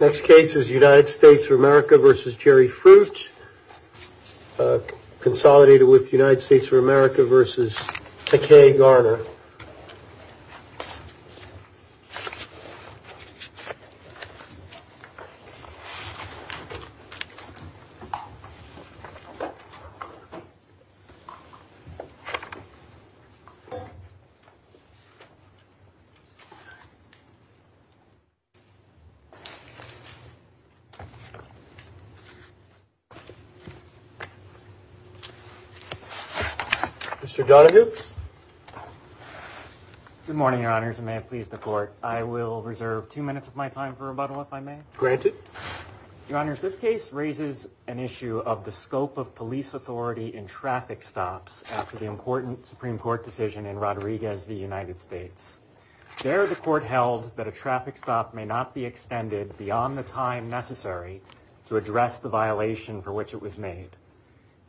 Next case is United States of America versus Jerry Fruit. Consolidated with the United States of America versus a K Garner. Mr. Donahue. Good morning, your honors. And may it please the court. I will reserve two minutes of my time for rebuttal. If I may grant it. Your honors, this case raises an issue of the scope of police authority in traffic stops after the important Supreme Court decision in Rodriguez v. United States. There, the court held that a traffic stop may not be extended beyond the time necessary to address the violation for which it was made.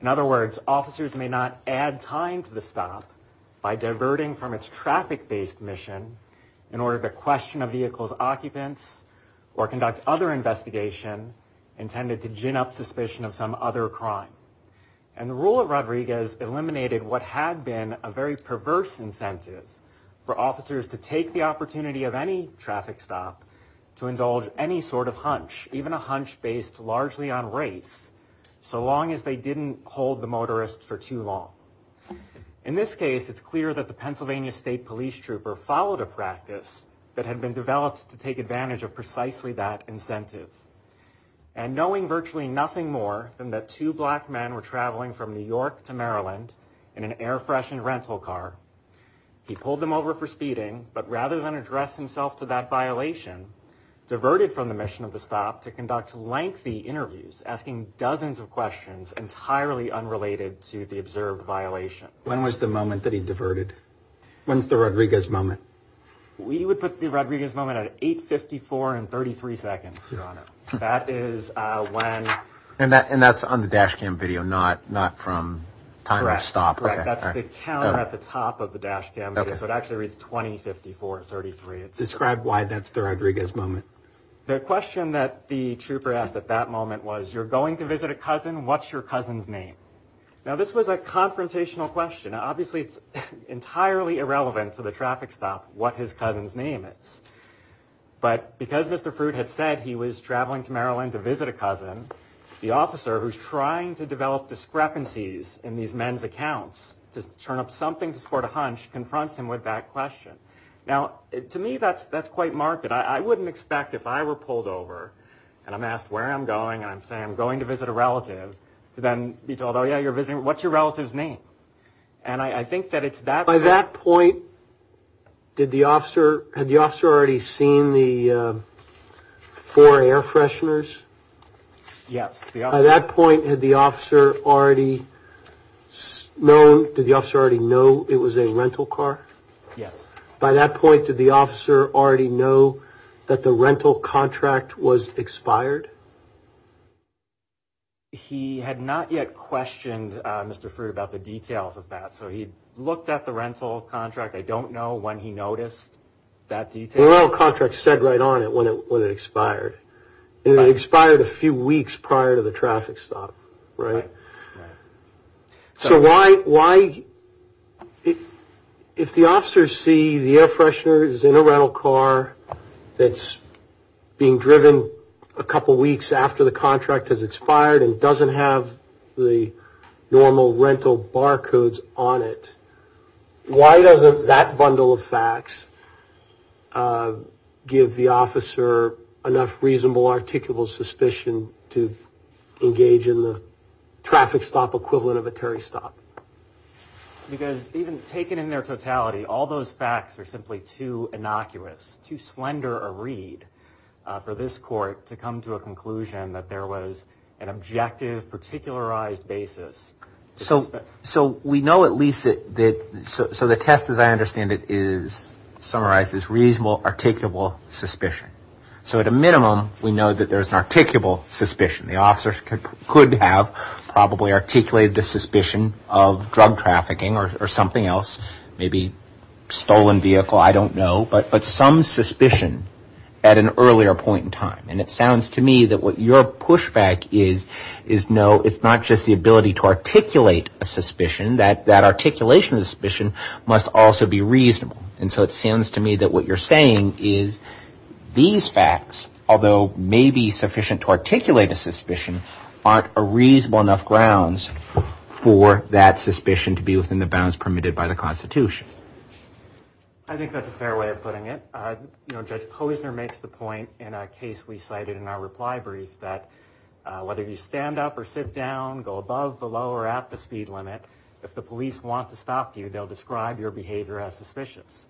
In other words, officers may not add time to the stop by diverting from its traffic-based mission in order to question a vehicle's occupants or conduct other investigation intended to gin up suspicion of some other crime. And the rule of Rodriguez eliminated what had been a very perverse incentive for officers to take the opportunity of any traffic stop to indulge any sort of In this case, it's clear that the Pennsylvania state police trooper followed a practice that had been developed to take advantage of precisely that incentive. And knowing virtually nothing more than that two black men were traveling from New York to Maryland in an air freshened rental car. He pulled them over for speeding, but rather than address himself to that violation, diverted from the mission of the stop to conduct lengthy interviews, asking dozens of questions entirely unrelated to the observed violation. When was the moment that he diverted? When's the Rodriguez moment? We would put the Rodriguez moment at 854 and 33 seconds. That is when. And that's on the dash cam video, not from time of stop. That's the count at the top of the dash cam. So it actually reads 20, 54, 33. Describe why that's the Rodriguez moment. The question that the trooper asked at that moment was, you're going to visit a cousin. What's your cousin's name? Now, this was a confrontational question. Obviously, it's entirely irrelevant to the traffic stop what his cousin's name is. But because Mr. Fruit had said he was traveling to Maryland to visit a cousin, the officer who's trying to develop discrepancies in these men's accounts to turn up something to support a hunch confronts him with that question. Now, to me, that's that's quite marked. I wouldn't expect if I were pulled over and I'm asked where I'm going, I'm saying I'm going to visit a relative to then be told, oh, yeah, you're visiting. What's your relative's name? And I think that it's that. By that point, did the officer had the officer already seen the four air fresheners? Yes. At that point, had the officer already known? Did the officer already know it was a rental car? Yes. By that point, did the officer already know that the rental contract was expired? He had not yet questioned Mr. Fruit about the details of that. So he looked at the rental contract. I don't know when he noticed that detail. The rental contract said right on it when it expired. It expired a few weeks prior to the traffic stop, right? Right. Why if the officers see the air fresheners in a rental car that's being driven a couple weeks after the contract has expired and doesn't have the normal rental barcodes on it, Why doesn't that bundle of facts give the officer enough reasonable, articulable suspicion to engage in the traffic stop equivalent of a Terry stop? Because even taken in their totality, all those facts are simply too innocuous, too slender a read for this court to come to a conclusion that there was an objective, particularized basis. So we know at least that the test, as I understand it, summarizes reasonable, articulable suspicion. So at a minimum, we know that there's an articulable suspicion. The officers could have probably articulated the suspicion of drug trafficking or something else, maybe stolen vehicle, I don't know, but some suspicion at an earlier point in time. And it sounds to me that what your pushback is, is no, it's not just the ability to articulate a suspicion, that articulation of suspicion must also be reasonable. And so it seems to me that what you're saying is these facts, although maybe sufficient to articulate a suspicion, aren't a reasonable enough grounds for that suspicion to be within the bounds permitted by the Constitution. I think that's a fair way of putting it. Judge Posner makes the point in a case we cited in our reply brief that whether you stand up or sit down, go above, below, or at the speed limit, if the police want to stop you, they'll describe your behavior as suspicious.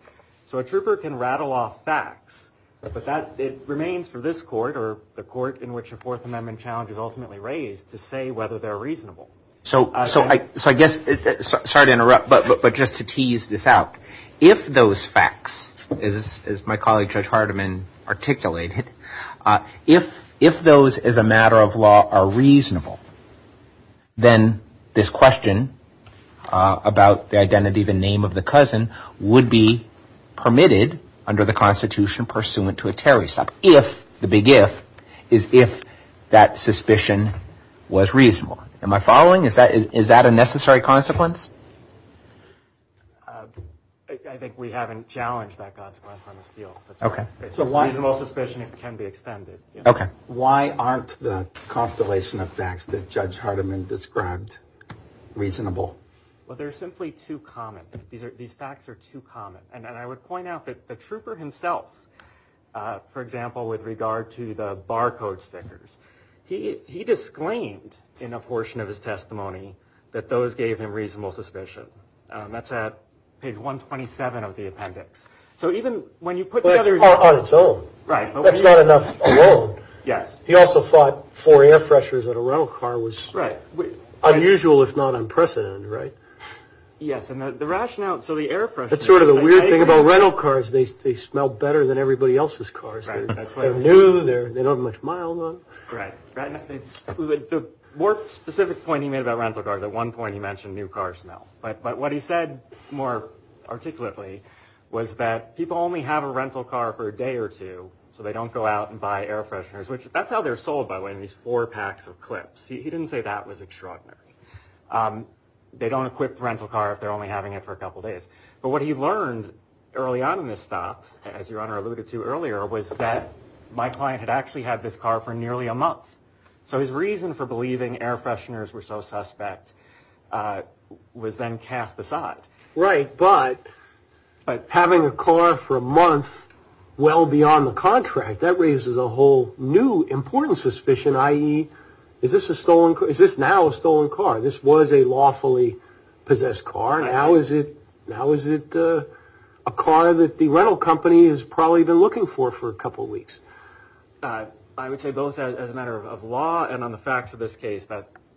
So a trooper can rattle off facts, but it remains for this court, or the court in which a Fourth Amendment challenge is ultimately raised, to say whether they're reasonable. So I guess, sorry to interrupt, but just to tease this out, if those facts, as my colleague Judge Hardiman articulated, if those as a matter of law are reasonable, then this question about the identity, the name of the cousin, would be permitted under the Constitution pursuant to a terrorist act, if, the big if, is if that suspicion was reasonable. Am I following? Is that a necessary consequence? I think we haven't challenged that consequence on this field. Okay. Reasonable suspicion can be extended. Okay. Why aren't the constellation of facts that Judge Hardiman described reasonable? Well, they're simply too common. These facts are too common. And I would point out that the trooper himself, for example, with regard to the barcode stickers, he disclaimed in a portion of his testimony that those gave him reasonable suspicion. That's at page 127 of the appendix. So even when you put the other... Well, it's part on its own. Right. That's not enough alone. Yes. He also thought four air freshers at a rental car was unusual, if not unprecedented, right? Yes, and the rationale... That's sort of the weird thing about rental cars. They smell better than everybody else's cars. Right. They're new. They don't have much mile on them. Right. The more specific point he made about rental cars, at one point he mentioned new car smell. But what he said more articulately was that people only have a rental car for a day or two, so they don't go out and buy air fresheners. That's how they're sold, by the way, in these four packs of clips. He didn't say that was extraordinary. They don't equip a rental car if they're only having it for a couple of days. But what he learned early on in this stop, as your Honor alluded to earlier, was that my client had actually had this car for nearly a month. So his reason for believing air fresheners were so suspect was then cast aside. Right, but having a car for a month well beyond the contract, that raises a whole new important suspicion, i.e., is this now a stolen car? This was a lawfully possessed car. Now is it a car that the rental company has probably been looking for for a couple of weeks? I would say both as a matter of law and on the facts of this case,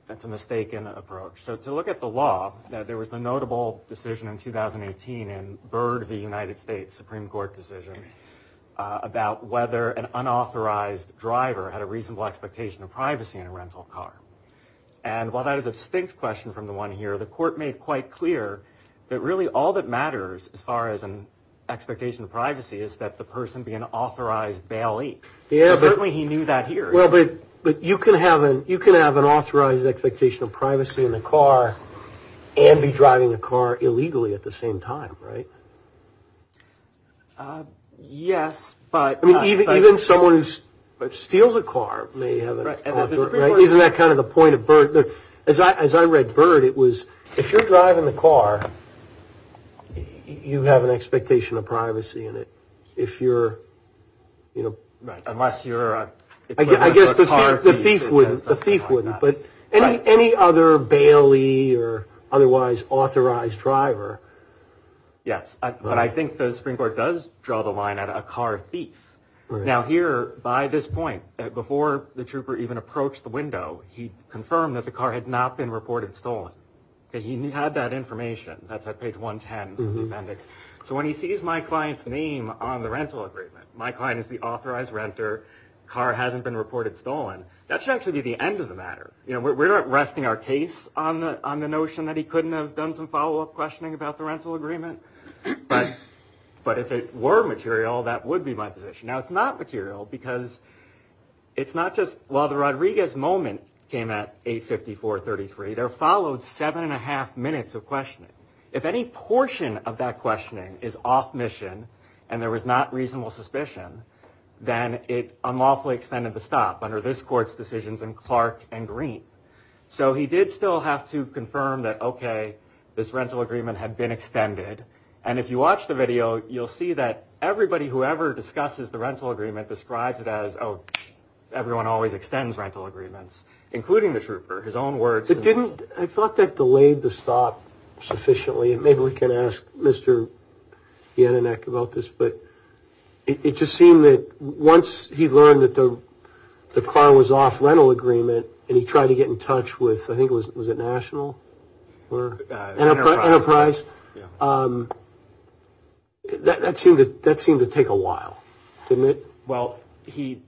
that's a mistaken approach. So to look at the law, there was a notable decision in 2018 in Byrd v. United States, a Supreme Court decision, about whether an unauthorized driver had a reasonable expectation of privacy in a rental car. And while that is a distinct question from the one here, the Court made quite clear that really all that matters as far as an expectation of privacy is that the person be an authorized bailee. Certainly he knew that here. But you can have an authorized expectation of privacy in a car and be driving a car illegally at the same time, right? Yes, but... Even someone who steals a car may have an authorized... Isn't that kind of the point of Byrd? As I read Byrd, it was, if you're driving a car, you have an expectation of privacy in it. Unless you're a car thief. I guess the thief wouldn't. But any other bailee or otherwise authorized driver... Yes, but I think the Supreme Court does draw the line at a car thief. Now here, by this point, before the trooper even approached the window, he confirmed that the car had not been reported stolen. He had that information. That's at page 110 of the appendix. So when he sees my client's name on the rental agreement, my client is the authorized renter, car hasn't been reported stolen, that should actually be the end of the matter. We're not resting our case on the notion that he couldn't have done some follow-up questioning about the rental agreement. But if it were material, that would be my position. Now it's not material because it's not just... While the Rodriguez moment came at 8.54.33, there followed seven and a half minutes of questioning. If any portion of that questioning is off mission and there was not reasonable suspicion, then it unlawfully extended the stop under this court's decisions in Clark and Green. So he did still have to confirm that, okay, this rental agreement had been extended. And if you watch the video, you'll see that everybody who ever discusses the rental agreement describes it as, oh, everyone always extends rental agreements, including the trooper, his own words. I thought that delayed the stop sufficiently. Maybe we can ask Mr. Yananek about this. But it just seemed that once he learned that the car was off rental agreement and he tried to get in touch with, I think, was it National? Enterprise. That seemed to take a while, didn't it? Well, he'd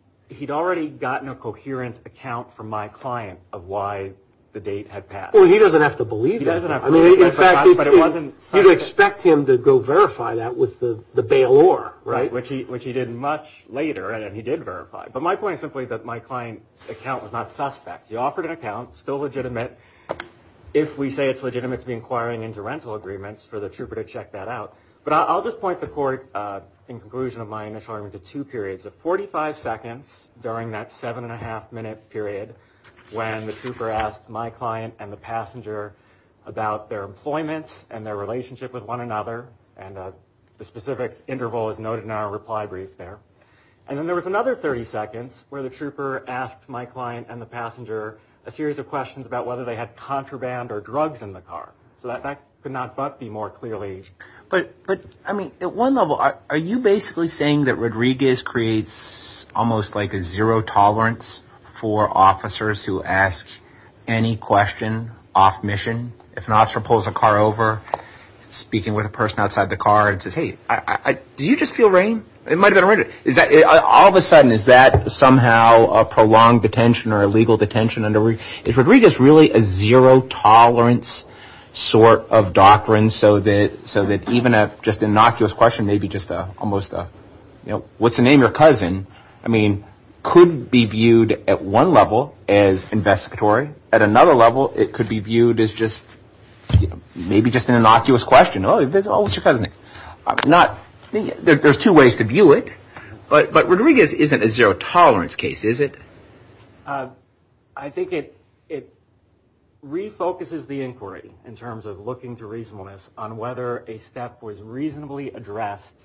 already gotten a coherent account from my client of why the date had passed. Well, he doesn't have to believe that. You'd expect him to go verify that with the bailor, right? Which he did much later, and he did verify. But my point is simply that my client's account was not suspect. He offered an account, still legitimate, if we say it's legitimate to be inquiring into rental agreements, for the trooper to check that out. But I'll just point the court, in conclusion of my initial argument, to two periods of 45 seconds during that seven and a half minute period when the trooper asked my client and the passenger about their employment and their relationship with one another. And the specific interval is noted in our reply brief there. And then there was another 30 seconds where the trooper asked my client and the passenger a series of questions about whether they had contraband or drugs in the car. So that could not but be more clearly. But, I mean, at one level, are you basically saying that Rodriguez creates almost like a zero tolerance for officers who ask any question off mission? If an officer pulls a car over, speaking with a person outside the car, and says, hey, did you just feel rain? It might have been rain. All of a sudden, is that somehow a prolonged detention or a legal detention? Is Rodriguez really a zero tolerance sort of doctrine so that even just an innocuous question and maybe just almost a what's the name of your cousin, I mean, could be viewed at one level as investigatory. At another level, it could be viewed as just maybe just an innocuous question. Oh, what's your cousin's name? There's two ways to view it. But Rodriguez isn't a zero tolerance case, is it? I think it refocuses the inquiry in terms of looking to reasonableness on whether a step was reasonably addressed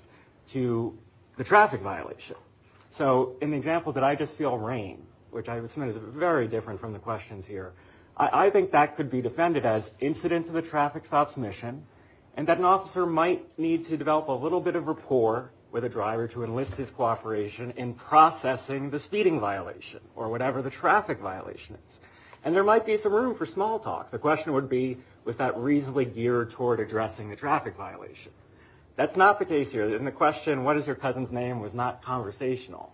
to the traffic violation. So in the example, did I just feel rain? Which I would say is very different from the questions here. I think that could be defended as incident to the traffic stop's mission and that an officer might need to develop a little bit of rapport with a driver to enlist his cooperation in processing the speeding violation or whatever the traffic violation is. And there might be some room for small talk. The question would be, was that reasonably geared toward addressing the traffic violation? That's not the case here. And the question, what is your cousin's name, was not conversational.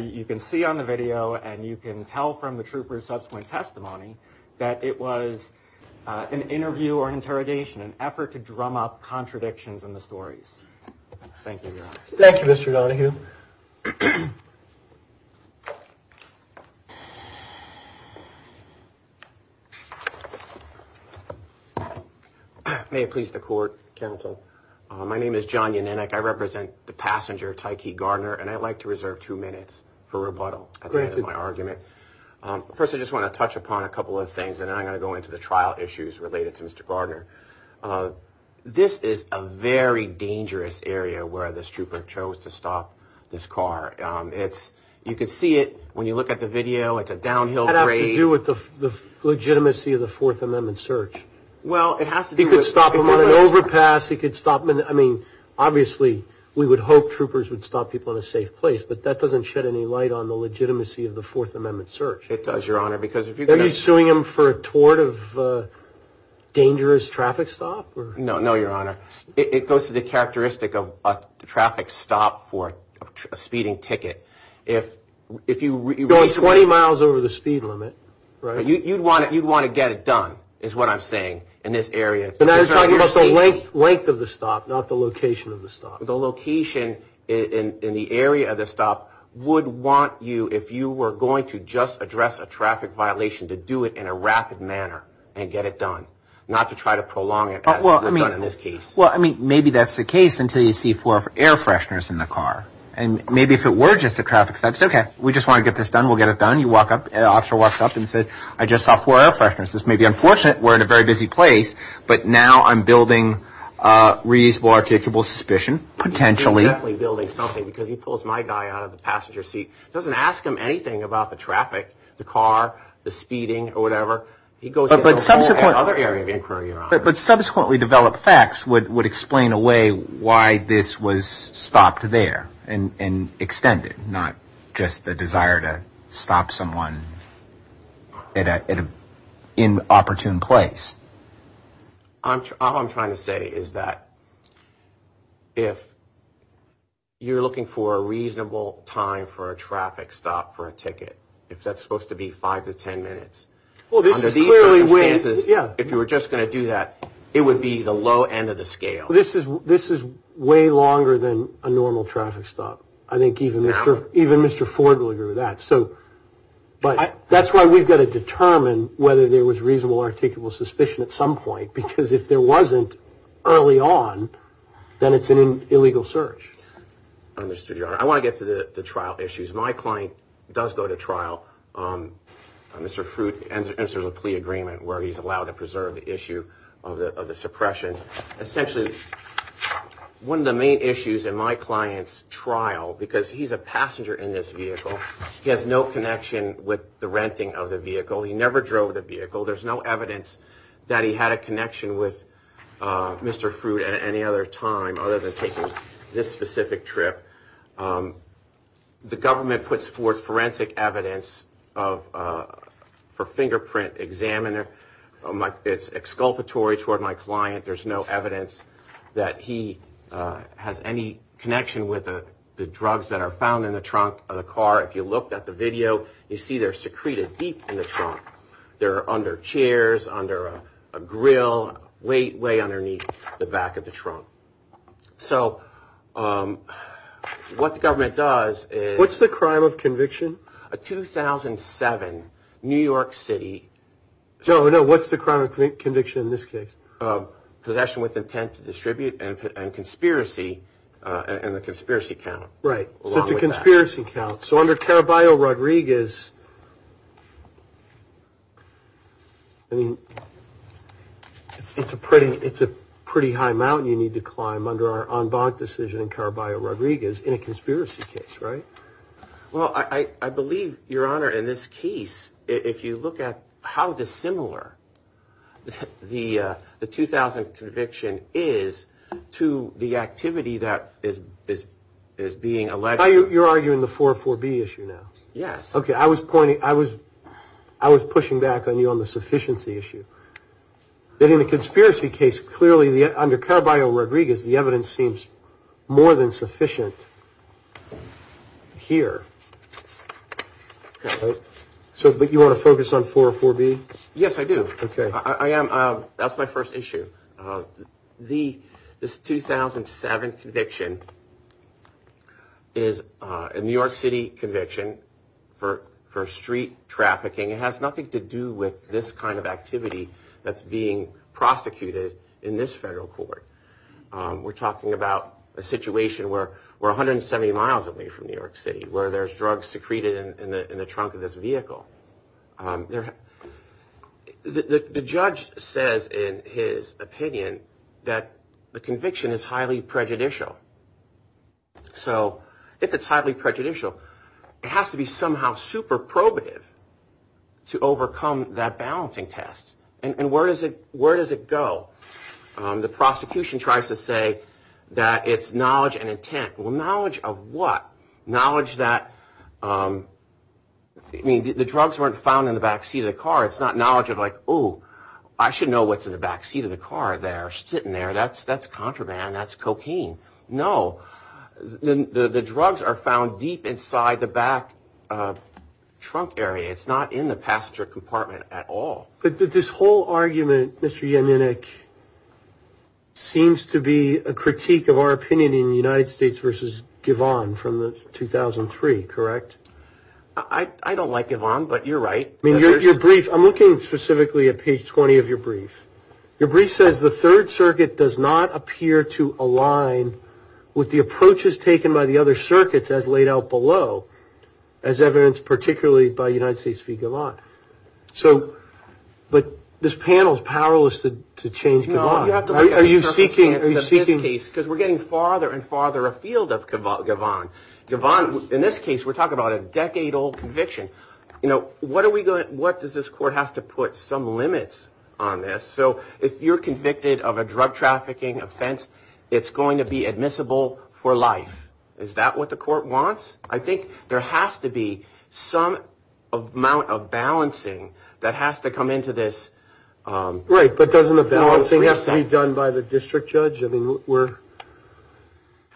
You can see on the video and you can tell from the trooper's subsequent testimony that it was an interview or an interrogation, an effort to drum up contradictions in the stories. Thank you, Your Honor. Thank you. May it please the court. Counsel. My name is John Yannink. I represent the passenger, Tykee Gardner, and I'd like to reserve two minutes for rebuttal. At the end of my argument. First, I just want to touch upon a couple of things and then I'm going to go into the trial issues related to Mr. Gardner. This is a very dangerous area where this trooper chose to stop this car. You can see it when you look at the video. It's a downhill grade. It has to do with the legitimacy of the Fourth Amendment search. Well, it has to do with the... He could stop him on an overpass. I mean, obviously, we would hope troopers would stop people in a safe place, but that doesn't shed any light on the legitimacy of the Fourth Amendment search. It does, Your Honor, because... Are you suing him for a tort of dangerous traffic stop? No, Your Honor. It goes to the characteristic of a traffic stop for a speeding ticket. If you... Going 20 miles over the speed limit, right? You'd want to get it done, is what I'm saying, in this area. But I'm talking about the length of the stop, not the location of the stop. The location in the area of the stop would want you, if you were going to just address a traffic violation, to do it in a rapid manner and get it done, not to try to prolong it as we've done in this case. Well, I mean, maybe that's the case until you see four air fresheners in the car. And maybe if it were just a traffic stop, you'd say, okay, we just want to get this done, we'll get it done. The officer walks up and says, I just saw four air fresheners. This may be unfortunate. We're in a very busy place, but now I'm building reasonable articulable suspicion, potentially. He's definitely building something because he pulls my guy out of the passenger seat. He doesn't ask him anything about the traffic, the car, the speeding, or whatever. He goes into a whole other area of inquiry around it. But subsequently developed facts would explain away why this was stopped there and extended, not just the desire to stop someone at an inopportune place. All I'm trying to say is that if you're looking for a reasonable time for a traffic stop for a ticket, if that's supposed to be five to ten minutes, under these circumstances, if you were just going to do that, it would be the low end of the scale. This is way longer than a normal traffic stop. I think even Mr. Ford would agree with that. That's why we've got to determine whether there was reasonable articulable suspicion at some point, because if there wasn't early on, then it's an illegal search. I want to get to the trial issues. My client does go to trial. Mr. Fruit enters a plea agreement where he's allowed to preserve the issue of the suppression. Essentially, one of the main issues in my client's trial, because he's a passenger in this vehicle, he has no connection with the renting of the vehicle. He never drove the vehicle. There's no evidence that he had a connection with Mr. Fruit at any other time, other than taking this specific trip. The government puts forth forensic evidence for fingerprint examiner. It's exculpatory toward my client. There's no evidence that he has any connection with the drugs that are found in the trunk of the car. If you looked at the video, you see they're secreted deep in the trunk. They're under chairs, under a grill, way underneath the back of the trunk. What the government does is- What's the crime of conviction? A 2007 New York City- No, no, what's the crime of conviction in this case? Possession with intent to distribute and conspiracy, and the conspiracy count. Right, so it's a conspiracy count. So under Caraballo-Rodriguez, I mean, it's a pretty high mountain you need to climb under our en banc decision in Caraballo-Rodriguez in a conspiracy case, right? Well, I believe, Your Honor, in this case, if you look at how dissimilar the 2000 conviction is to the activity that is being alleged- You're arguing the 404B issue now? Yes. Okay, I was pushing back on you on the sufficiency issue. That in a conspiracy case, clearly, under Caraballo-Rodriguez, the evidence seems more than sufficient here. But you want to focus on 404B? Yes, I do. That's my first issue. This 2007 conviction is a New York City conviction for street trafficking. It has nothing to do with this kind of activity that's being prosecuted in this federal court. We're talking about a situation where we're 170 miles away from New York City, where there's drugs secreted in the trunk of this vehicle. The judge says in his opinion that the conviction is highly prejudicial. So if it's highly prejudicial, it has to be somehow super probative to overcome that balancing test. And where does it go? The prosecution tries to say that it's knowledge and intent. Well, knowledge of what? Knowledge that- I mean, the drugs weren't found in the backseat of the car. It's not knowledge of like, ooh, I should know what's in the backseat of the car there, sitting there. That's contraband. That's cocaine. No. The drugs are found deep inside the back trunk area. It's not in the passenger compartment at all. But this whole argument, Mr. Yaninik, seems to be a critique of our opinion in the United States versus Givon from 2003, correct? I don't like Givon, but you're right. I mean, your brief- I'm looking specifically at page 20 of your brief. Your brief says the Third Circuit does not appear to align with the approaches taken by the other circuits, as laid out below, as evidenced particularly by United States v. Givon. So- but this panel is powerless to change Givon. No, you have to look at the circumstances of this case, because we're getting farther and farther afield of Givon. Givon, in this case, we're talking about a decade-old conviction. You know, what does this court have to put some limits on this? So if you're convicted of a drug trafficking offense, it's going to be admissible for life. Is that what the court wants? I think there has to be some amount of balancing that has to come into this- Right, but doesn't the balancing have to be done by the district judge? I mean,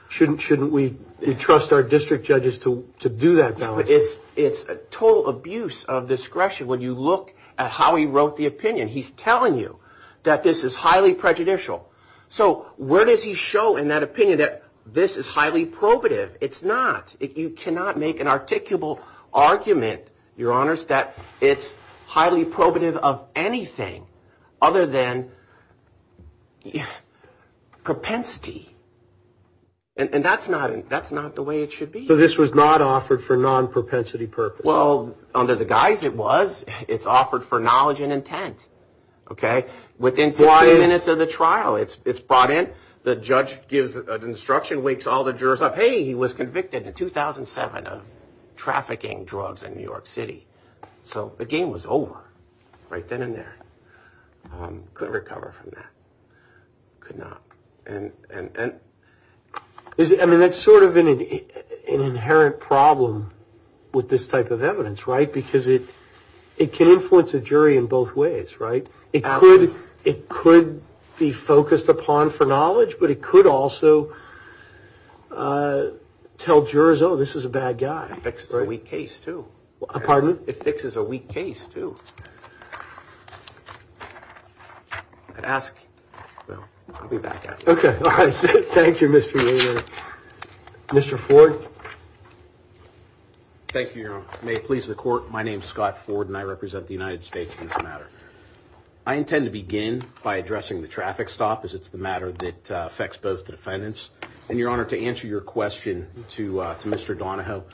shouldn't we trust our district judges to do that balancing? It's a total abuse of discretion when you look at how he wrote the opinion. He's telling you that this is highly prejudicial. So where does he show in that opinion that this is highly probative? It's not. You cannot make an articulable argument, Your Honors, that it's highly probative of anything other than propensity. And that's not the way it should be. So this was not offered for non-propensity purposes? Well, under the guise it was. It's offered for knowledge and intent. Within 40 minutes of the trial, it's brought in. The judge gives an instruction, wakes all the jurors up. Hey, he was convicted in 2007 of trafficking drugs in New York City. So the game was over right then and there. Couldn't recover from that. Could not. I mean, that's sort of an inherent problem with this type of evidence, right? Because it can influence a jury in both ways, right? It could be focused upon for knowledge, but it could also tell jurors, oh, this is a bad guy. It fixes a weak case, too. Pardon? It fixes a weak case, too. I'd ask you. I'll be back after. Okay. All right. Thank you, Mr. Romero. Mr. Ford? Thank you, Your Honor. May it please the court, my name is Scott Ford, and I represent the United States in this matter. I intend to begin by addressing the traffic stop, as it's the matter that affects both defendants. And, Your Honor, to answer your question to Mr. Donahoe,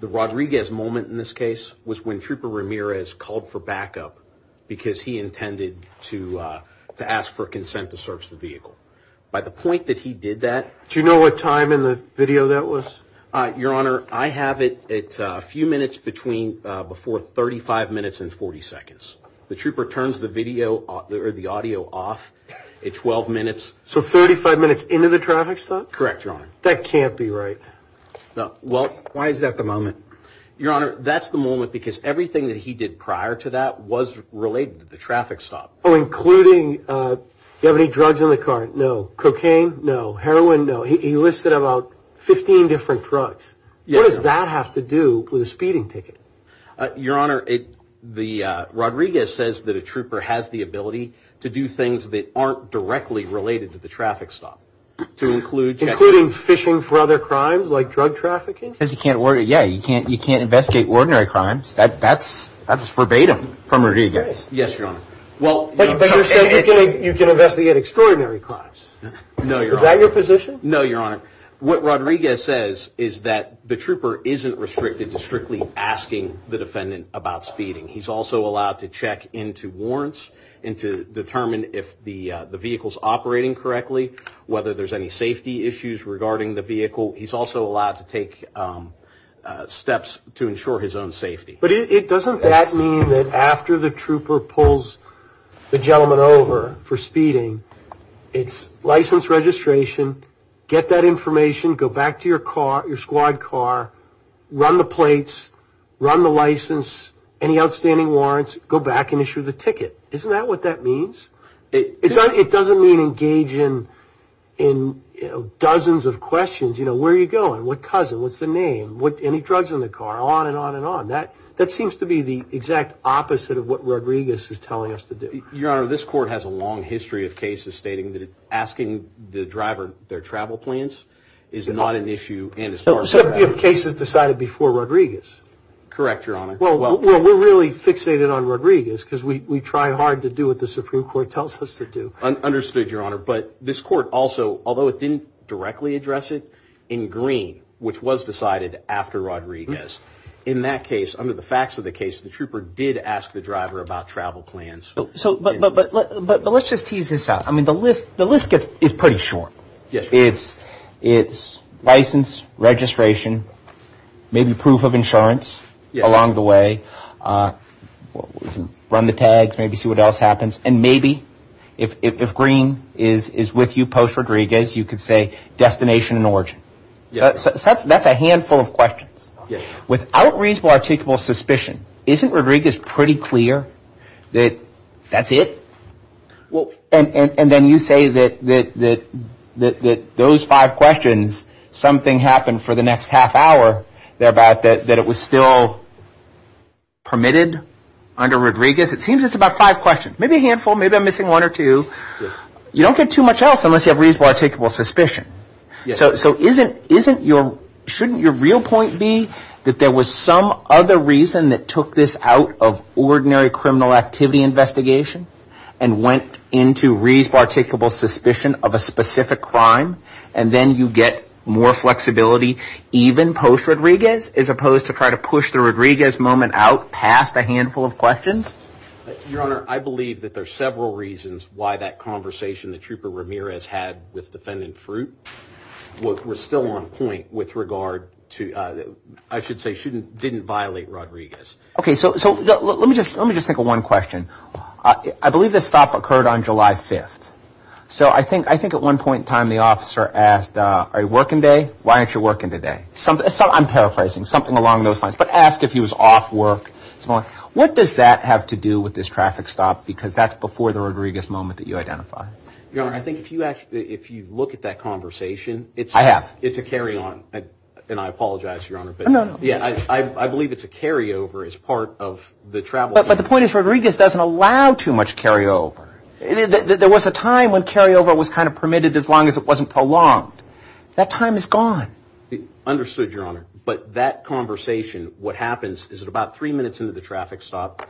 the Rodriguez moment in this case was when Trooper Ramirez called for backup. Because he intended to ask for consent to search the vehicle. By the point that he did that. Do you know what time in the video that was? Your Honor, I have it at a few minutes before 35 minutes and 40 seconds. The Trooper turns the audio off at 12 minutes. So 35 minutes into the traffic stop? Correct, Your Honor. That can't be right. Why is that the moment? Your Honor, that's the moment because everything that he did prior to that was related to the traffic stop. Oh, including, do you have any drugs in the car? No. Cocaine? No. Heroin? No. He listed about 15 different drugs. What does that have to do with a speeding ticket? Your Honor, the Rodriguez says that a Trooper has the ability to do things that aren't directly related to the traffic stop. Including fishing for other crimes, like drug trafficking? Yeah, you can't investigate ordinary crimes. That's verbatim from Rodriguez. Yes, Your Honor. But you're saying you can investigate extraordinary crimes. No, Your Honor. Is that your position? No, Your Honor. What Rodriguez says is that the Trooper isn't restricted to strictly asking the defendant about speeding. He's also allowed to check into warrants and to determine if the vehicle's operating correctly, whether there's any safety issues regarding the vehicle. He's also allowed to take steps to ensure his own safety. But doesn't that mean that after the Trooper pulls the gentleman over for speeding, it's license registration, get that information, go back to your squad car, run the plates, run the license, any outstanding warrants, go back and issue the ticket. Isn't that what that means? It doesn't mean engage in dozens of questions. You know, where are you going? What cousin? What's the name? Any drugs in the car? On and on and on. That seems to be the exact opposite of what Rodriguez is telling us to do. Your Honor, this Court has a long history of cases stating that asking the driver their travel plans is not an issue. And it's part of that. Cases decided before Rodriguez. Correct, Your Honor. Well, we're really fixated on Rodriguez because we try hard to do what the Supreme Court tells us to do. Understood, Your Honor. But this Court also, although it didn't directly address it, in Green, which was decided after Rodriguez, in that case, under the facts of the case, the Trooper did ask the driver about travel plans. But let's just tease this out. I mean, the list is pretty short. It's license, registration, maybe proof of insurance along the way. Run the tags, maybe see what else happens. And maybe if Green is with you post-Rodriguez, you could say destination and origin. So that's a handful of questions. Without reasonable, articulable suspicion, isn't Rodriguez pretty clear that that's it? And then you say that those five questions, something happened for the next half hour, thereby that it was still permitted under Rodriguez? It seems it's about five questions. Maybe a handful, maybe I'm missing one or two. You don't get too much else unless you have reasonable, articulable suspicion. So shouldn't your real point be that there was some other reason that took this out of ordinary criminal activity investigation? And went into reasonable, articulable suspicion of a specific crime? And then you get more flexibility even post-Rodriguez? As opposed to try to push the Rodriguez moment out past a handful of questions? Your Honor, I believe that there's several reasons why that conversation the Trooper Ramirez had with Defendant Fruit was still on point with regard to, I should say, didn't violate Rodriguez. Okay, so let me just think of one question. I believe this stop occurred on July 5th. So I think at one point in time the officer asked, are you working today? Why aren't you working today? I'm paraphrasing, something along those lines. But asked if he was off work. What does that have to do with this traffic stop? Because that's before the Rodriguez moment that you identified. Your Honor, I think if you look at that conversation, it's a carry-on. And I apologize, Your Honor. I believe it's a carry-over as part of the travel. But the point is Rodriguez doesn't allow too much carry-over. There was a time when carry-over was kind of permitted as long as it wasn't prolonged. That time is gone. Understood, Your Honor. But that conversation, what happens is at about three minutes into the traffic stop,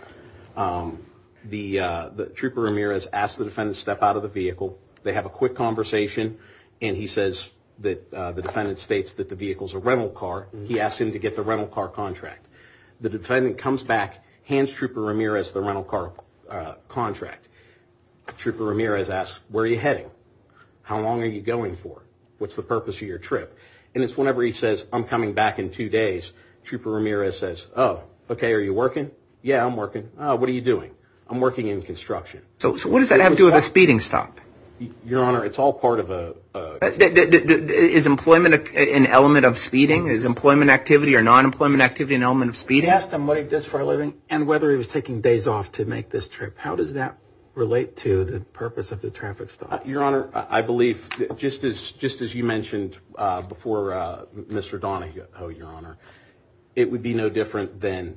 the Trooper Ramirez asks the defendant to step out of the vehicle. They have a quick conversation. And he says that the defendant states that the vehicle is a rental car. He asks him to get the rental car contract. The defendant comes back, hands Trooper Ramirez the rental car contract. Trooper Ramirez asks, where are you heading? How long are you going for? What's the purpose of your trip? And it's whenever he says, I'm coming back in two days, Trooper Ramirez says, oh, okay, are you working? Yeah, I'm working. Oh, what are you doing? I'm working in construction. So what does that have to do with a speeding stop? Your Honor, it's all part of a... Is employment an element of speeding? Is employment activity or non-employment activity an element of speeding? He asked him whether he was taking days off to make this trip. How does that relate to the purpose of the traffic stop? Your Honor, I believe just as you mentioned before Mr. Donahoe, Your Honor, it would be no different than,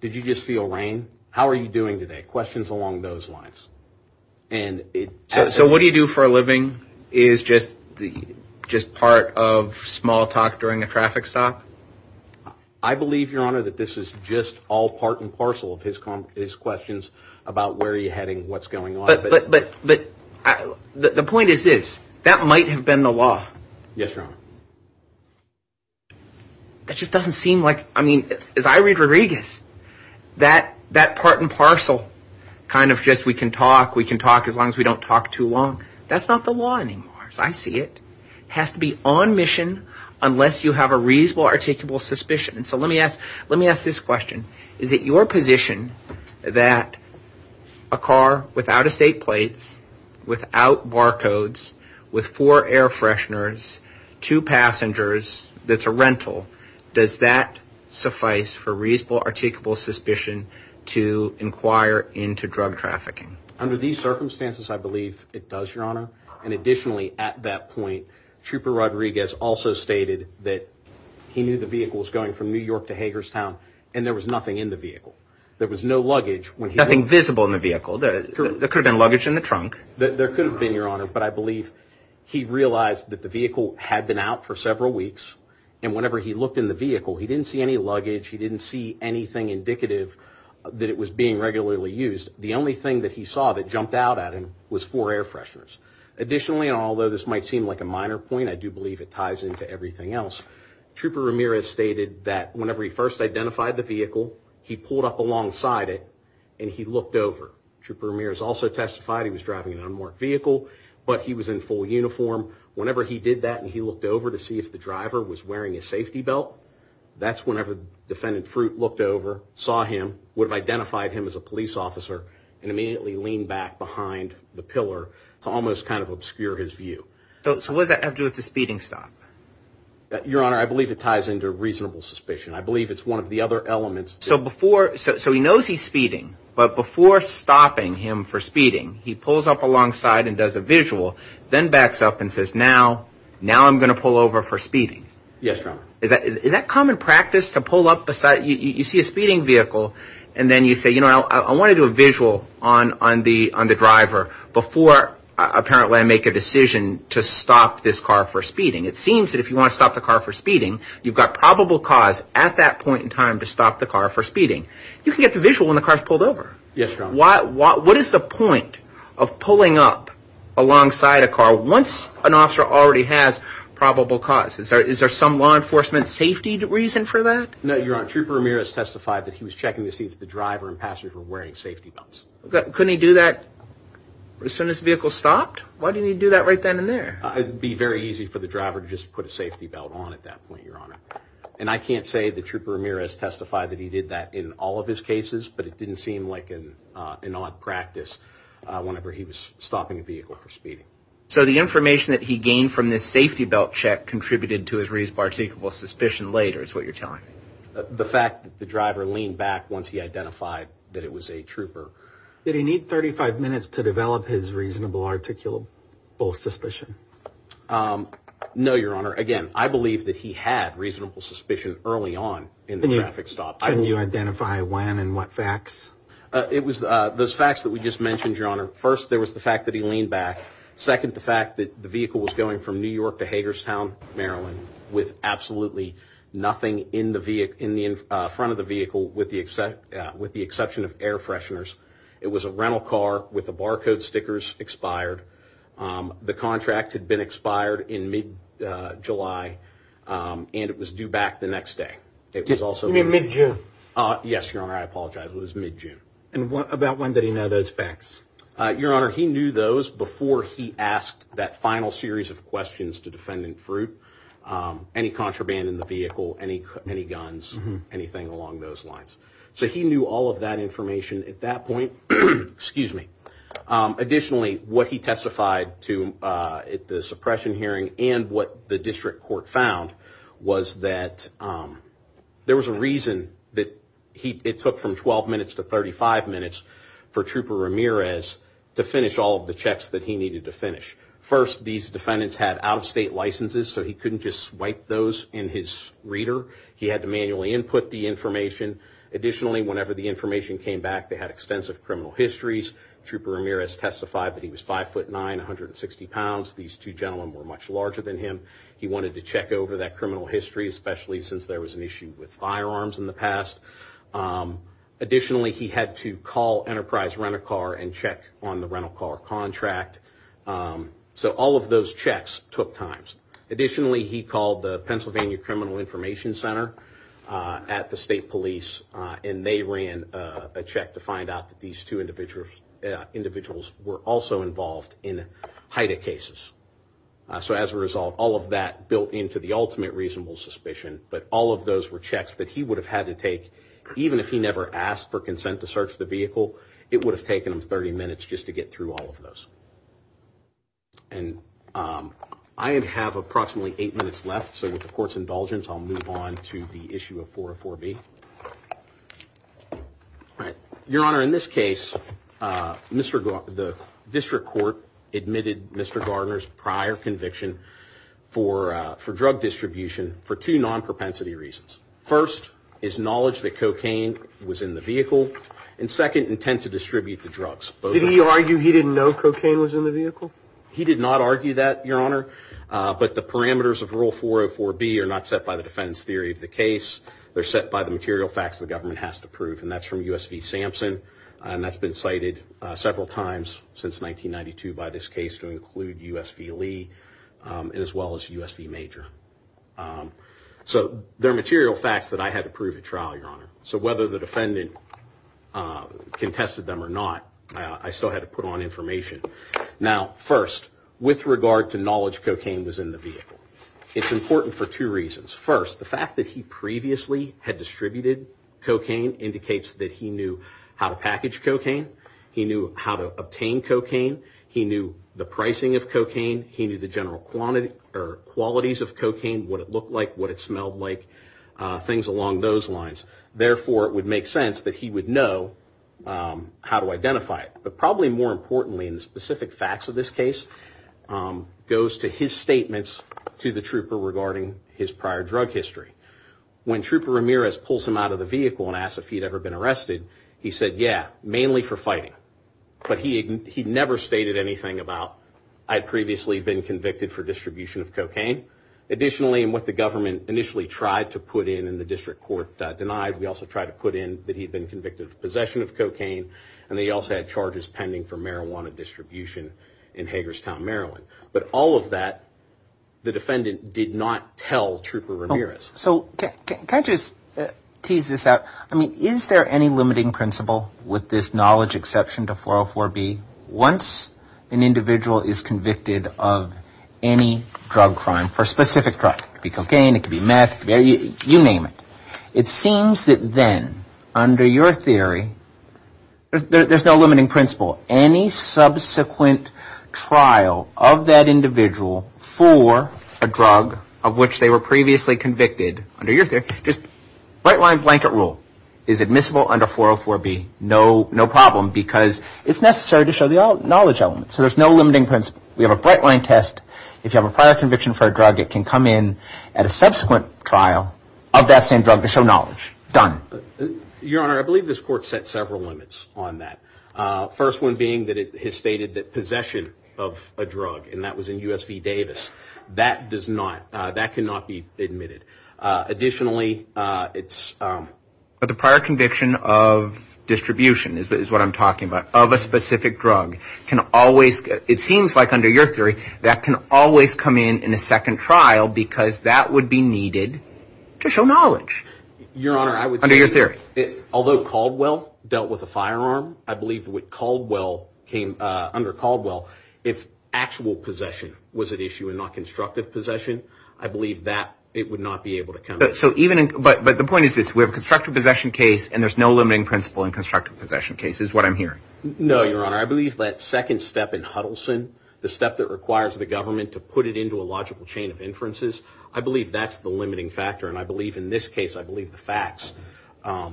did you just feel rain? How are you doing today? Questions along those lines. So what do you do for a living? Is just part of small talk during a traffic stop? I believe, Your Honor, that this is just all part and parcel of his questions about where are you heading, what's going on. But the point is this, that might have been the law. Yes, Your Honor. That just doesn't seem like, I mean, as I read Rodriguez, that part and parcel kind of just we can talk, we can talk as long as we don't talk too long. That's not the law anymore as I see it. It has to be on mission unless you have a reasonable articulable suspicion. And so let me ask, let me ask this question. Is it your position that a car without estate plates, without barcodes, with four air fresheners, two passengers, that's a rental, does that suffice for reasonable articulable suspicion to inquire into drug trafficking? Under these circumstances I believe it does, Your Honor. And additionally at that point Trooper Rodriguez also stated that he knew the vehicle was going from New York to Hagerstown and there was nothing in the vehicle. There was no luggage. Nothing visible in the vehicle. There could have been luggage in the trunk. There could have been, Your Honor, but I believe he realized that the vehicle had been out for several weeks and whenever he looked in the vehicle he didn't see any luggage, he didn't see anything indicative that it was being regularly used. The only thing that he saw that jumped out at him was four air fresheners. Additionally, and although this might seem like a minor point, I do believe it ties into everything else, Trooper Ramirez stated that whenever he first identified the vehicle he pulled up alongside it and he looked over. Trooper Ramirez also testified he was driving an unmarked vehicle, but he was in full uniform. Whenever he did that and he looked over to see if the driver was wearing a safety belt, that's whenever Defendant Fruit looked over, saw him, would have identified him as a police officer and immediately leaned back behind the pillar to almost kind of obscure his view. So what does that have to do with the speeding stop? Your Honor, I believe it ties into reasonable suspicion. I believe it's one of the other elements. So he knows he's speeding, but before stopping him for speeding he pulls up alongside and does a visual, then backs up and says, now I'm going to pull over for speeding. Yes, Your Honor. Is that common practice to pull up? You see a speeding vehicle and then you say, you know, I want to do a visual on the driver before apparently I make a decision to stop this car for speeding. It seems that if you want to stop the car for speeding, you've got probable cause at that point in time to stop the car for speeding. You can get the visual when the car's pulled over. Yes, Your Honor. What is the point of pulling up alongside a car once an officer already has probable cause? Is there some law enforcement safety reason for that? No, Your Honor. Trooper Ramirez testified that he was checking to see if the driver and passenger were wearing safety belts. Couldn't he do that as soon as the vehicle stopped? Why didn't he do that right then and there? It would be very easy for the driver to just put a safety belt on at that point, Your Honor. And I can't say that Trooper Ramirez testified that he did that in all of his cases, but it didn't seem like an odd practice whenever he was stopping a vehicle for speeding. So the information that he gained from this safety belt check contributed to his reasonable suspicion later is what you're telling me? The fact that the driver leaned back once he identified that it was a trooper. Did he need 35 minutes to develop his reasonable articulable suspicion? No, Your Honor. Again, I believe that he had reasonable suspicion early on in the traffic stop. Can you identify when and what facts? It was those facts that we just mentioned, Your Honor. First, there was the fact that he leaned back. Second, the fact that the vehicle was going from New York to Hagerstown, Maryland, with absolutely nothing in the front of the vehicle with the exception of air fresheners. It was a rental car with the barcode stickers expired. The contract had been expired in mid-July, and it was due back the next day. You mean mid-June? Yes, Your Honor. I apologize. It was mid-June. And about when did he know those facts? Your Honor, he knew those before he asked that final series of questions to Defendant Fruit. Any contraband in the vehicle, any guns, anything along those lines. So he knew all of that information at that point. Excuse me. Additionally, what he testified to at the suppression hearing and what the district court found was that there was a reason that it took from 12 minutes to 35 minutes for Trooper Ramirez to finish all of the checks that he needed to finish. First, these defendants had out-of-state licenses, so he couldn't just swipe those in his reader. He had to manually input the information. Additionally, whenever the information came back, they had extensive criminal histories. Trooper Ramirez testified that he was 5'9", 160 pounds. These two gentlemen were much larger than him. He wanted to check over that criminal history, especially since there was an issue with firearms in the past. Additionally, he had to call Enterprise Rent-A-Car and check on the rental car contract. So all of those checks took time. Additionally, he called the Pennsylvania Criminal Information Center at the state police, and they ran a check to find out that these two individuals were also involved in HIDTA cases. So as a result, all of that built into the ultimate reasonable suspicion, but all of those were checks that he would have had to take, even if he never asked for consent to search the vehicle, it would have taken him 30 minutes just to get through all of those. And I have approximately eight minutes left, so with the court's indulgence, I'll move on to the issue of 404B. Your Honor, in this case, the district court admitted Mr. Gardner's prior conviction for drug distribution for two non-propensity reasons. First, his knowledge that cocaine was in the vehicle, and second, intent to distribute the drugs. Did he argue he didn't know cocaine was in the vehicle? He did not argue that, Your Honor, but the parameters of Rule 404B are not set by the defense theory of the case. They're set by the material facts the government has to prove, and that's from U.S. v. Sampson, and that's been cited several times since 1992 by this case to include U.S. v. Lee, as well as U.S. v. Major. So they're material facts that I had to prove at trial, Your Honor. So whether the defendant contested them or not, I still had to put on information. Now, first, with regard to knowledge cocaine was in the vehicle, it's important for two reasons. First, the fact that he previously had distributed cocaine indicates that he knew how to package cocaine. He knew how to obtain cocaine. He knew the pricing of cocaine. He knew the general qualities of cocaine, what it looked like, what it smelled like, things along those lines. Therefore, it would make sense that he would know how to identify it. But probably more importantly, in the specific facts of this case, goes to his statements to the trooper regarding his prior drug history. When Trooper Ramirez pulls him out of the vehicle and asks if he'd ever been arrested, he said, yeah, mainly for fighting. But he never stated anything about, I'd previously been convicted for distribution of cocaine. Additionally, in what the government initially tried to put in and the district court denied, we also tried to put in that he'd been convicted of possession of cocaine. And they also had charges pending for marijuana distribution in Hagerstown, Maryland. But all of that, the defendant did not tell Trooper Ramirez. So can I just tease this out? I mean, is there any limiting principle with this knowledge exception to 404B? Once an individual is convicted of any drug crime for a specific drug, it could be cocaine, it could be meth, you name it. It seems that then, under your theory, there's no limiting principle. Any subsequent trial of that individual for a drug of which they were previously convicted, under your theory, just bright-line blanket rule is admissible under 404B, no problem. Because it's necessary to show the knowledge element. So there's no limiting principle. We have a bright-line test. If you have a prior conviction for a drug, it can come in at a subsequent trial of that same drug to show knowledge. Done. Your Honor, I believe this Court set several limits on that. First one being that it has stated that possession of a drug, and that was in U.S. v. Davis, that does not, that cannot be admitted. Additionally, it's... But the prior conviction of distribution is what I'm talking about, of a specific drug, can always... It seems like, under your theory, that can always come in in a second trial because that would be needed to show knowledge. Your Honor, I would say... Under your theory. Although Caldwell dealt with a firearm, I believe what Caldwell came... Under Caldwell, if actual possession was at issue and not constructive possession, I believe that it would not be able to come in. So even in... But the point is this. We have a constructive possession case, and there's no limiting principle in constructive possession cases, is what I'm hearing. No, your Honor. I believe that second step in Huddleston, the step that requires the government to put it into a logical chain of inferences, I believe that's the limiting factor. And I believe, in this case, I believe the facts are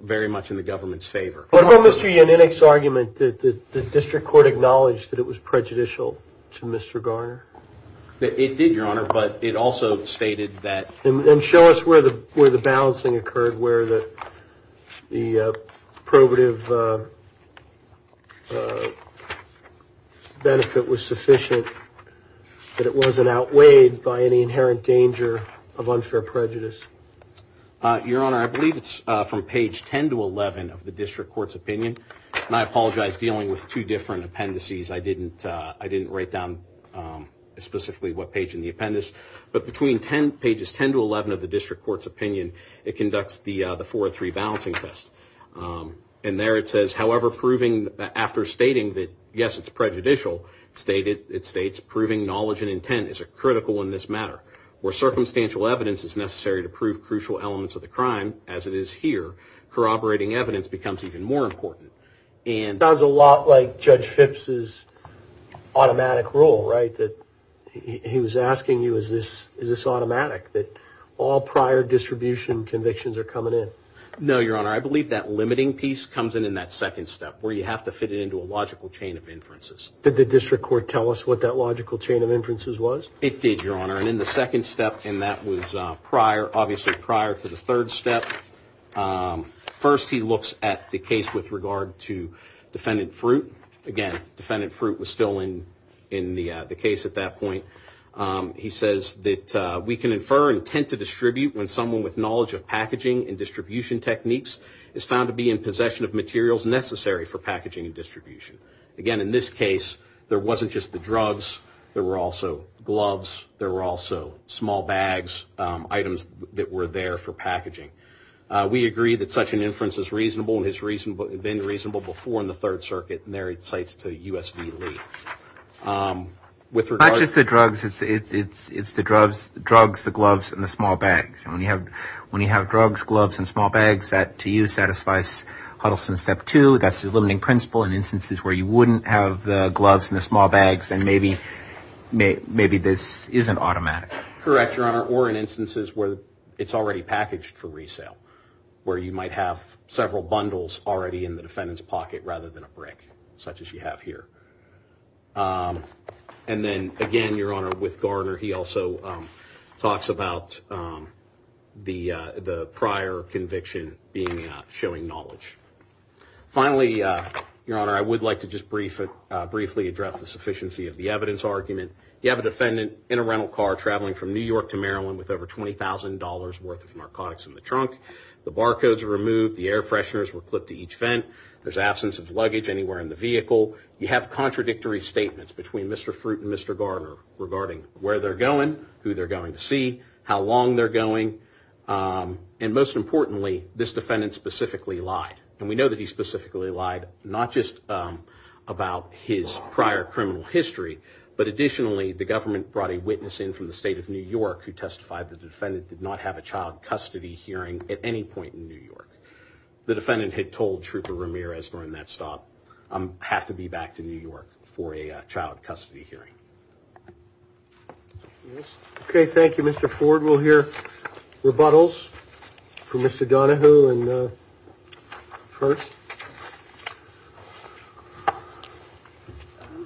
very much in the government's favor. What about Mr. Yaninick's argument that the District Court acknowledged that it was prejudicial to Mr. Garner? It did, your Honor, but it also stated that... And show us where the balancing occurred, where the probative benefit was sufficient that it wasn't outweighed by any inherent danger of unfair prejudice. Your Honor, I believe it's from page 10 to 11 of the District Court's opinion. And I apologize, dealing with two different appendices, I didn't write down specifically what page in the appendix. But between pages 10 to 11 of the District Court's opinion, it conducts the 403 balancing test. And there it says, however, proving after stating that, yes, it's prejudicial, it states proving knowledge and intent is critical in this matter. Where circumstantial evidence is necessary to prove crucial elements of the crime, as it is here, corroborating evidence becomes even more important. It sounds a lot like Judge Phipps' automatic rule, right? That he was asking you, is this automatic? That all prior distribution convictions are coming in. No, your Honor, I believe that limiting piece comes in in that second step, where you have to fit it into a logical chain of inferences. Did the District Court tell us what that logical chain of inferences was? It did, your Honor, and in the second step, and that was obviously prior to the third step. First, he looks at the case with regard to defendant Fruit. Again, defendant Fruit was still in the case at that point. He says that we can infer intent to distribute when someone with knowledge of packaging and distribution techniques is found to be in possession of materials necessary for packaging and distribution. Again, in this case, there wasn't just the drugs, there were also gloves, there were also small bags, items that were there for packaging. We agree that such an inference is reasonable and has been reasonable before in the Third Circuit, and there it cites to U.S. v. Lee. Not just the drugs, it's the drugs, the gloves, and the small bags. When you have drugs, gloves, and small bags, that to you satisfies Huddleston Step 2. That's the limiting principle in instances where you wouldn't have the gloves and the small bags, and maybe this isn't automatic. Correct, Your Honor, or in instances where it's already packaged for resale, where you might have several bundles already in the defendant's pocket rather than a brick, such as you have here. And then, again, Your Honor, with Garner, he also talks about the prior conviction being showing knowledge. Finally, Your Honor, I would like to just briefly address the sufficiency of the evidence argument. You have a defendant in a rental car traveling from New York to Maryland with over $20,000 worth of narcotics in the trunk. The barcodes were removed, the air fresheners were clipped to each vent, there's absence of luggage anywhere in the vehicle. You have contradictory statements between Mr. Fruit and Mr. Garner regarding where they're going, who they're going to see, how long they're going, and most importantly, this defendant specifically lied. And we know that he specifically lied not just about his prior criminal history, but additionally, the government brought a witness in from the state of New York who testified that the defendant did not have a child custody hearing at any point in New York. The defendant had told Trooper Ramirez during that stop, I have to be back to New York for a child custody hearing. Okay, thank you, Mr. Ford. We'll hear rebuttals from Mr. Donohue first.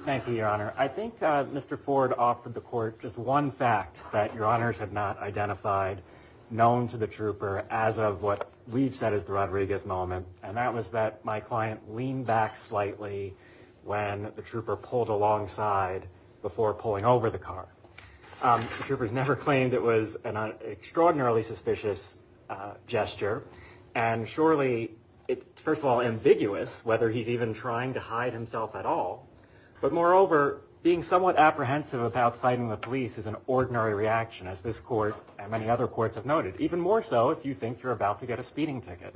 Thank you, Your Honor. I think Mr. Ford offered the court just one fact that Your Honors had not identified known to the trooper as of what we've said is the Rodriguez moment. And that was that my client leaned back slightly when the trooper pulled alongside before pulling over the car. The trooper's never claimed it was an extraordinarily suspicious gesture, and surely it's, first of all, ambiguous whether he's even trying to hide himself at all. But moreover, being somewhat apprehensive about citing the police is an ordinary reaction, as this court and many other courts have noted, even more so if you think you're about to get a speeding ticket.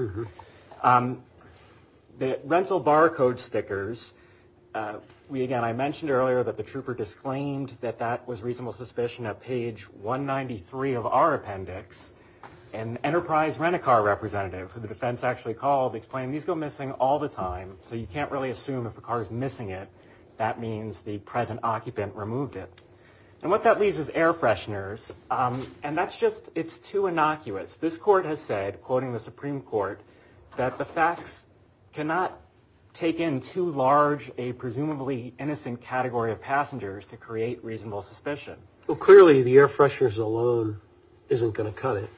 The rental barcode stickers, again, I mentioned earlier that the trooper disclaimed that that was reasonable suspicion at page 193 of our appendix. An Enterprise Rent-A-Car representative, who the defense actually called, explained these go missing all the time, so you can't really assume if a car is missing it, that means the present occupant removed it. And what that leaves is air fresheners, and that's just, it's too innocuous. This court has said, quoting the Supreme Court, that the facts cannot take in too large a presumably innocent category of passengers to create reasonable suspicion. Well, clearly the air fresheners alone isn't going to cut it.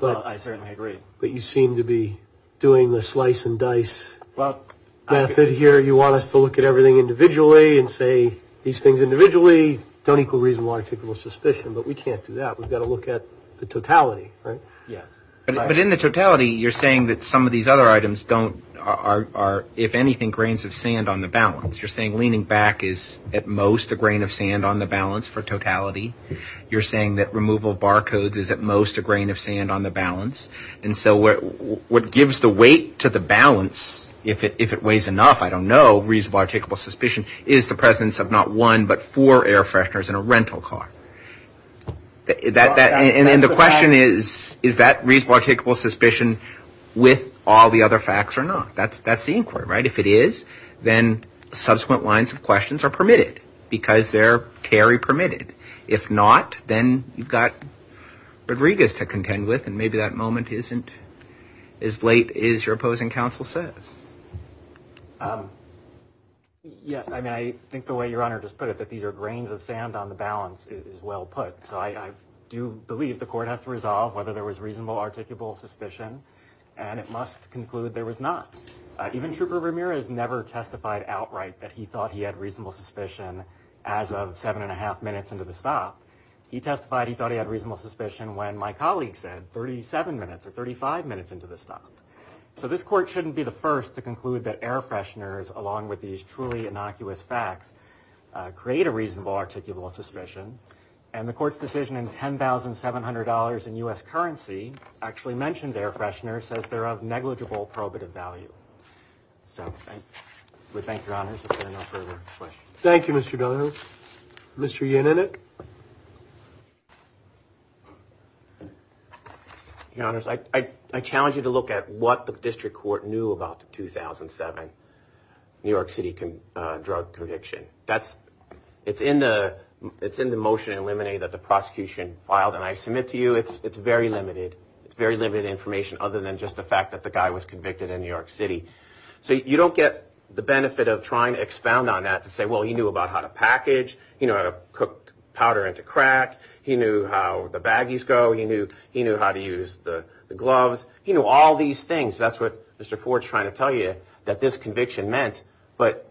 Well, I certainly agree. But you seem to be doing the slice and dice method here. You want us to look at everything individually and say these things individually don't equal reasonable articulable suspicion, but we can't do that. We've got to look at the totality, right? Yes. But in the totality, you're saying that some of these other items don't, are, if anything, grains of sand on the balance. You're saying leaning back is, at most, a grain of sand on the balance for totality. You're saying that removal of barcodes is, at most, a grain of sand on the balance. And so what gives the weight to the balance, if it weighs enough, I don't know, reasonable articulable suspicion, is the presence of not one but four air fresheners in a rental car. And the question is, is that reasonable articulable suspicion with all the other facts or not? That's the inquiry, right? If it is, then subsequent lines of questions are permitted because they're Terry permitted. If not, then you've got Rodriguez to contend with. And maybe that moment isn't as late as your opposing counsel says. Yeah, I mean, I think the way your honor just put it, that these are grains of sand on the balance is well put. So I do believe the court has to resolve whether there was reasonable articulable suspicion. And it must conclude there was not. Even Trooper Ramirez never testified outright that he thought he had reasonable suspicion as of seven and a half minutes into the stop. He testified he thought he had reasonable suspicion when my colleague said 37 minutes or 35 minutes into the stop. So this court shouldn't be the first to conclude that air fresheners, along with these truly innocuous facts, create a reasonable articulable suspicion. And the court's decision in ten thousand seven hundred dollars in U.S. currency actually mentioned air freshener says they're of negligible probative value. So we thank your honors. Thank you, Mr. Miller. Mr. Yaninik. Your honors, I challenge you to look at what the district court knew about the 2007 New York City drug conviction. That's it's in the it's in the motion eliminated that the prosecution filed. And I submit to you it's it's very limited. It's very limited information other than just the fact that the guy was convicted in New York City. So you don't get the benefit of trying to expound on that to say, well, you knew about how to package, you know, cook powder into crack. He knew how the baggies go. He knew he knew how to use the gloves. You know, all these things. That's what Mr. Ford's trying to tell you, that this conviction meant. But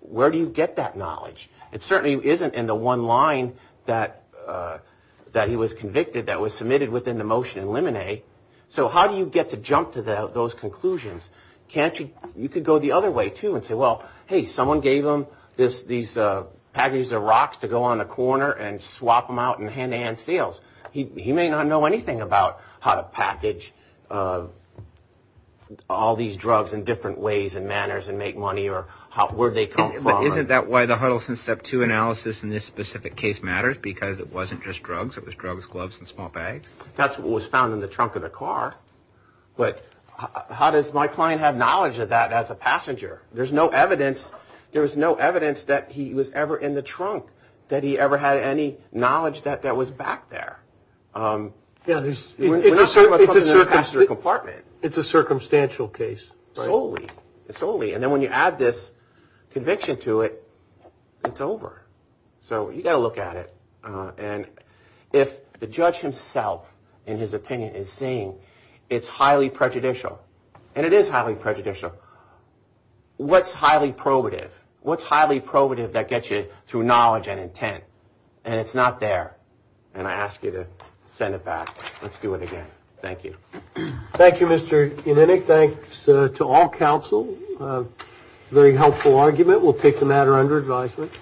where do you get that knowledge? It certainly isn't in the one line that that he was convicted that was submitted within the motion eliminate. So how do you get to jump to those conclusions? Can't you? You could go the other way, too, and say, well, hey, someone gave him this. These packages of rocks to go on the corner and swap them out and hand in sales. He may not know anything about how to package all these drugs in different ways and manners and make money or where they come from. Isn't that why the Huddleston step to analysis in this specific case matters? Because it wasn't just drugs. It was drugs, gloves and small bags. That's what was found in the trunk of the car. But how does my client have knowledge of that as a passenger? There's no evidence. There was no evidence that he was ever in the trunk, that he ever had any knowledge that that was back there. Yeah, there's a certain it's a certain sort of compartment. It's a circumstantial case. Solely solely. And then when you add this conviction to it, it's over. So you got to look at it. And if the judge himself, in his opinion, is saying it's highly prejudicial and it is highly prejudicial. What's highly probative? What's highly probative that gets you through knowledge and intent? And it's not there. And I ask you to send it back. Let's do it again. Thank you. Thank you, Mr. Unenick. Thanks to all counsel. Very helpful argument. We'll take the matter under advisement.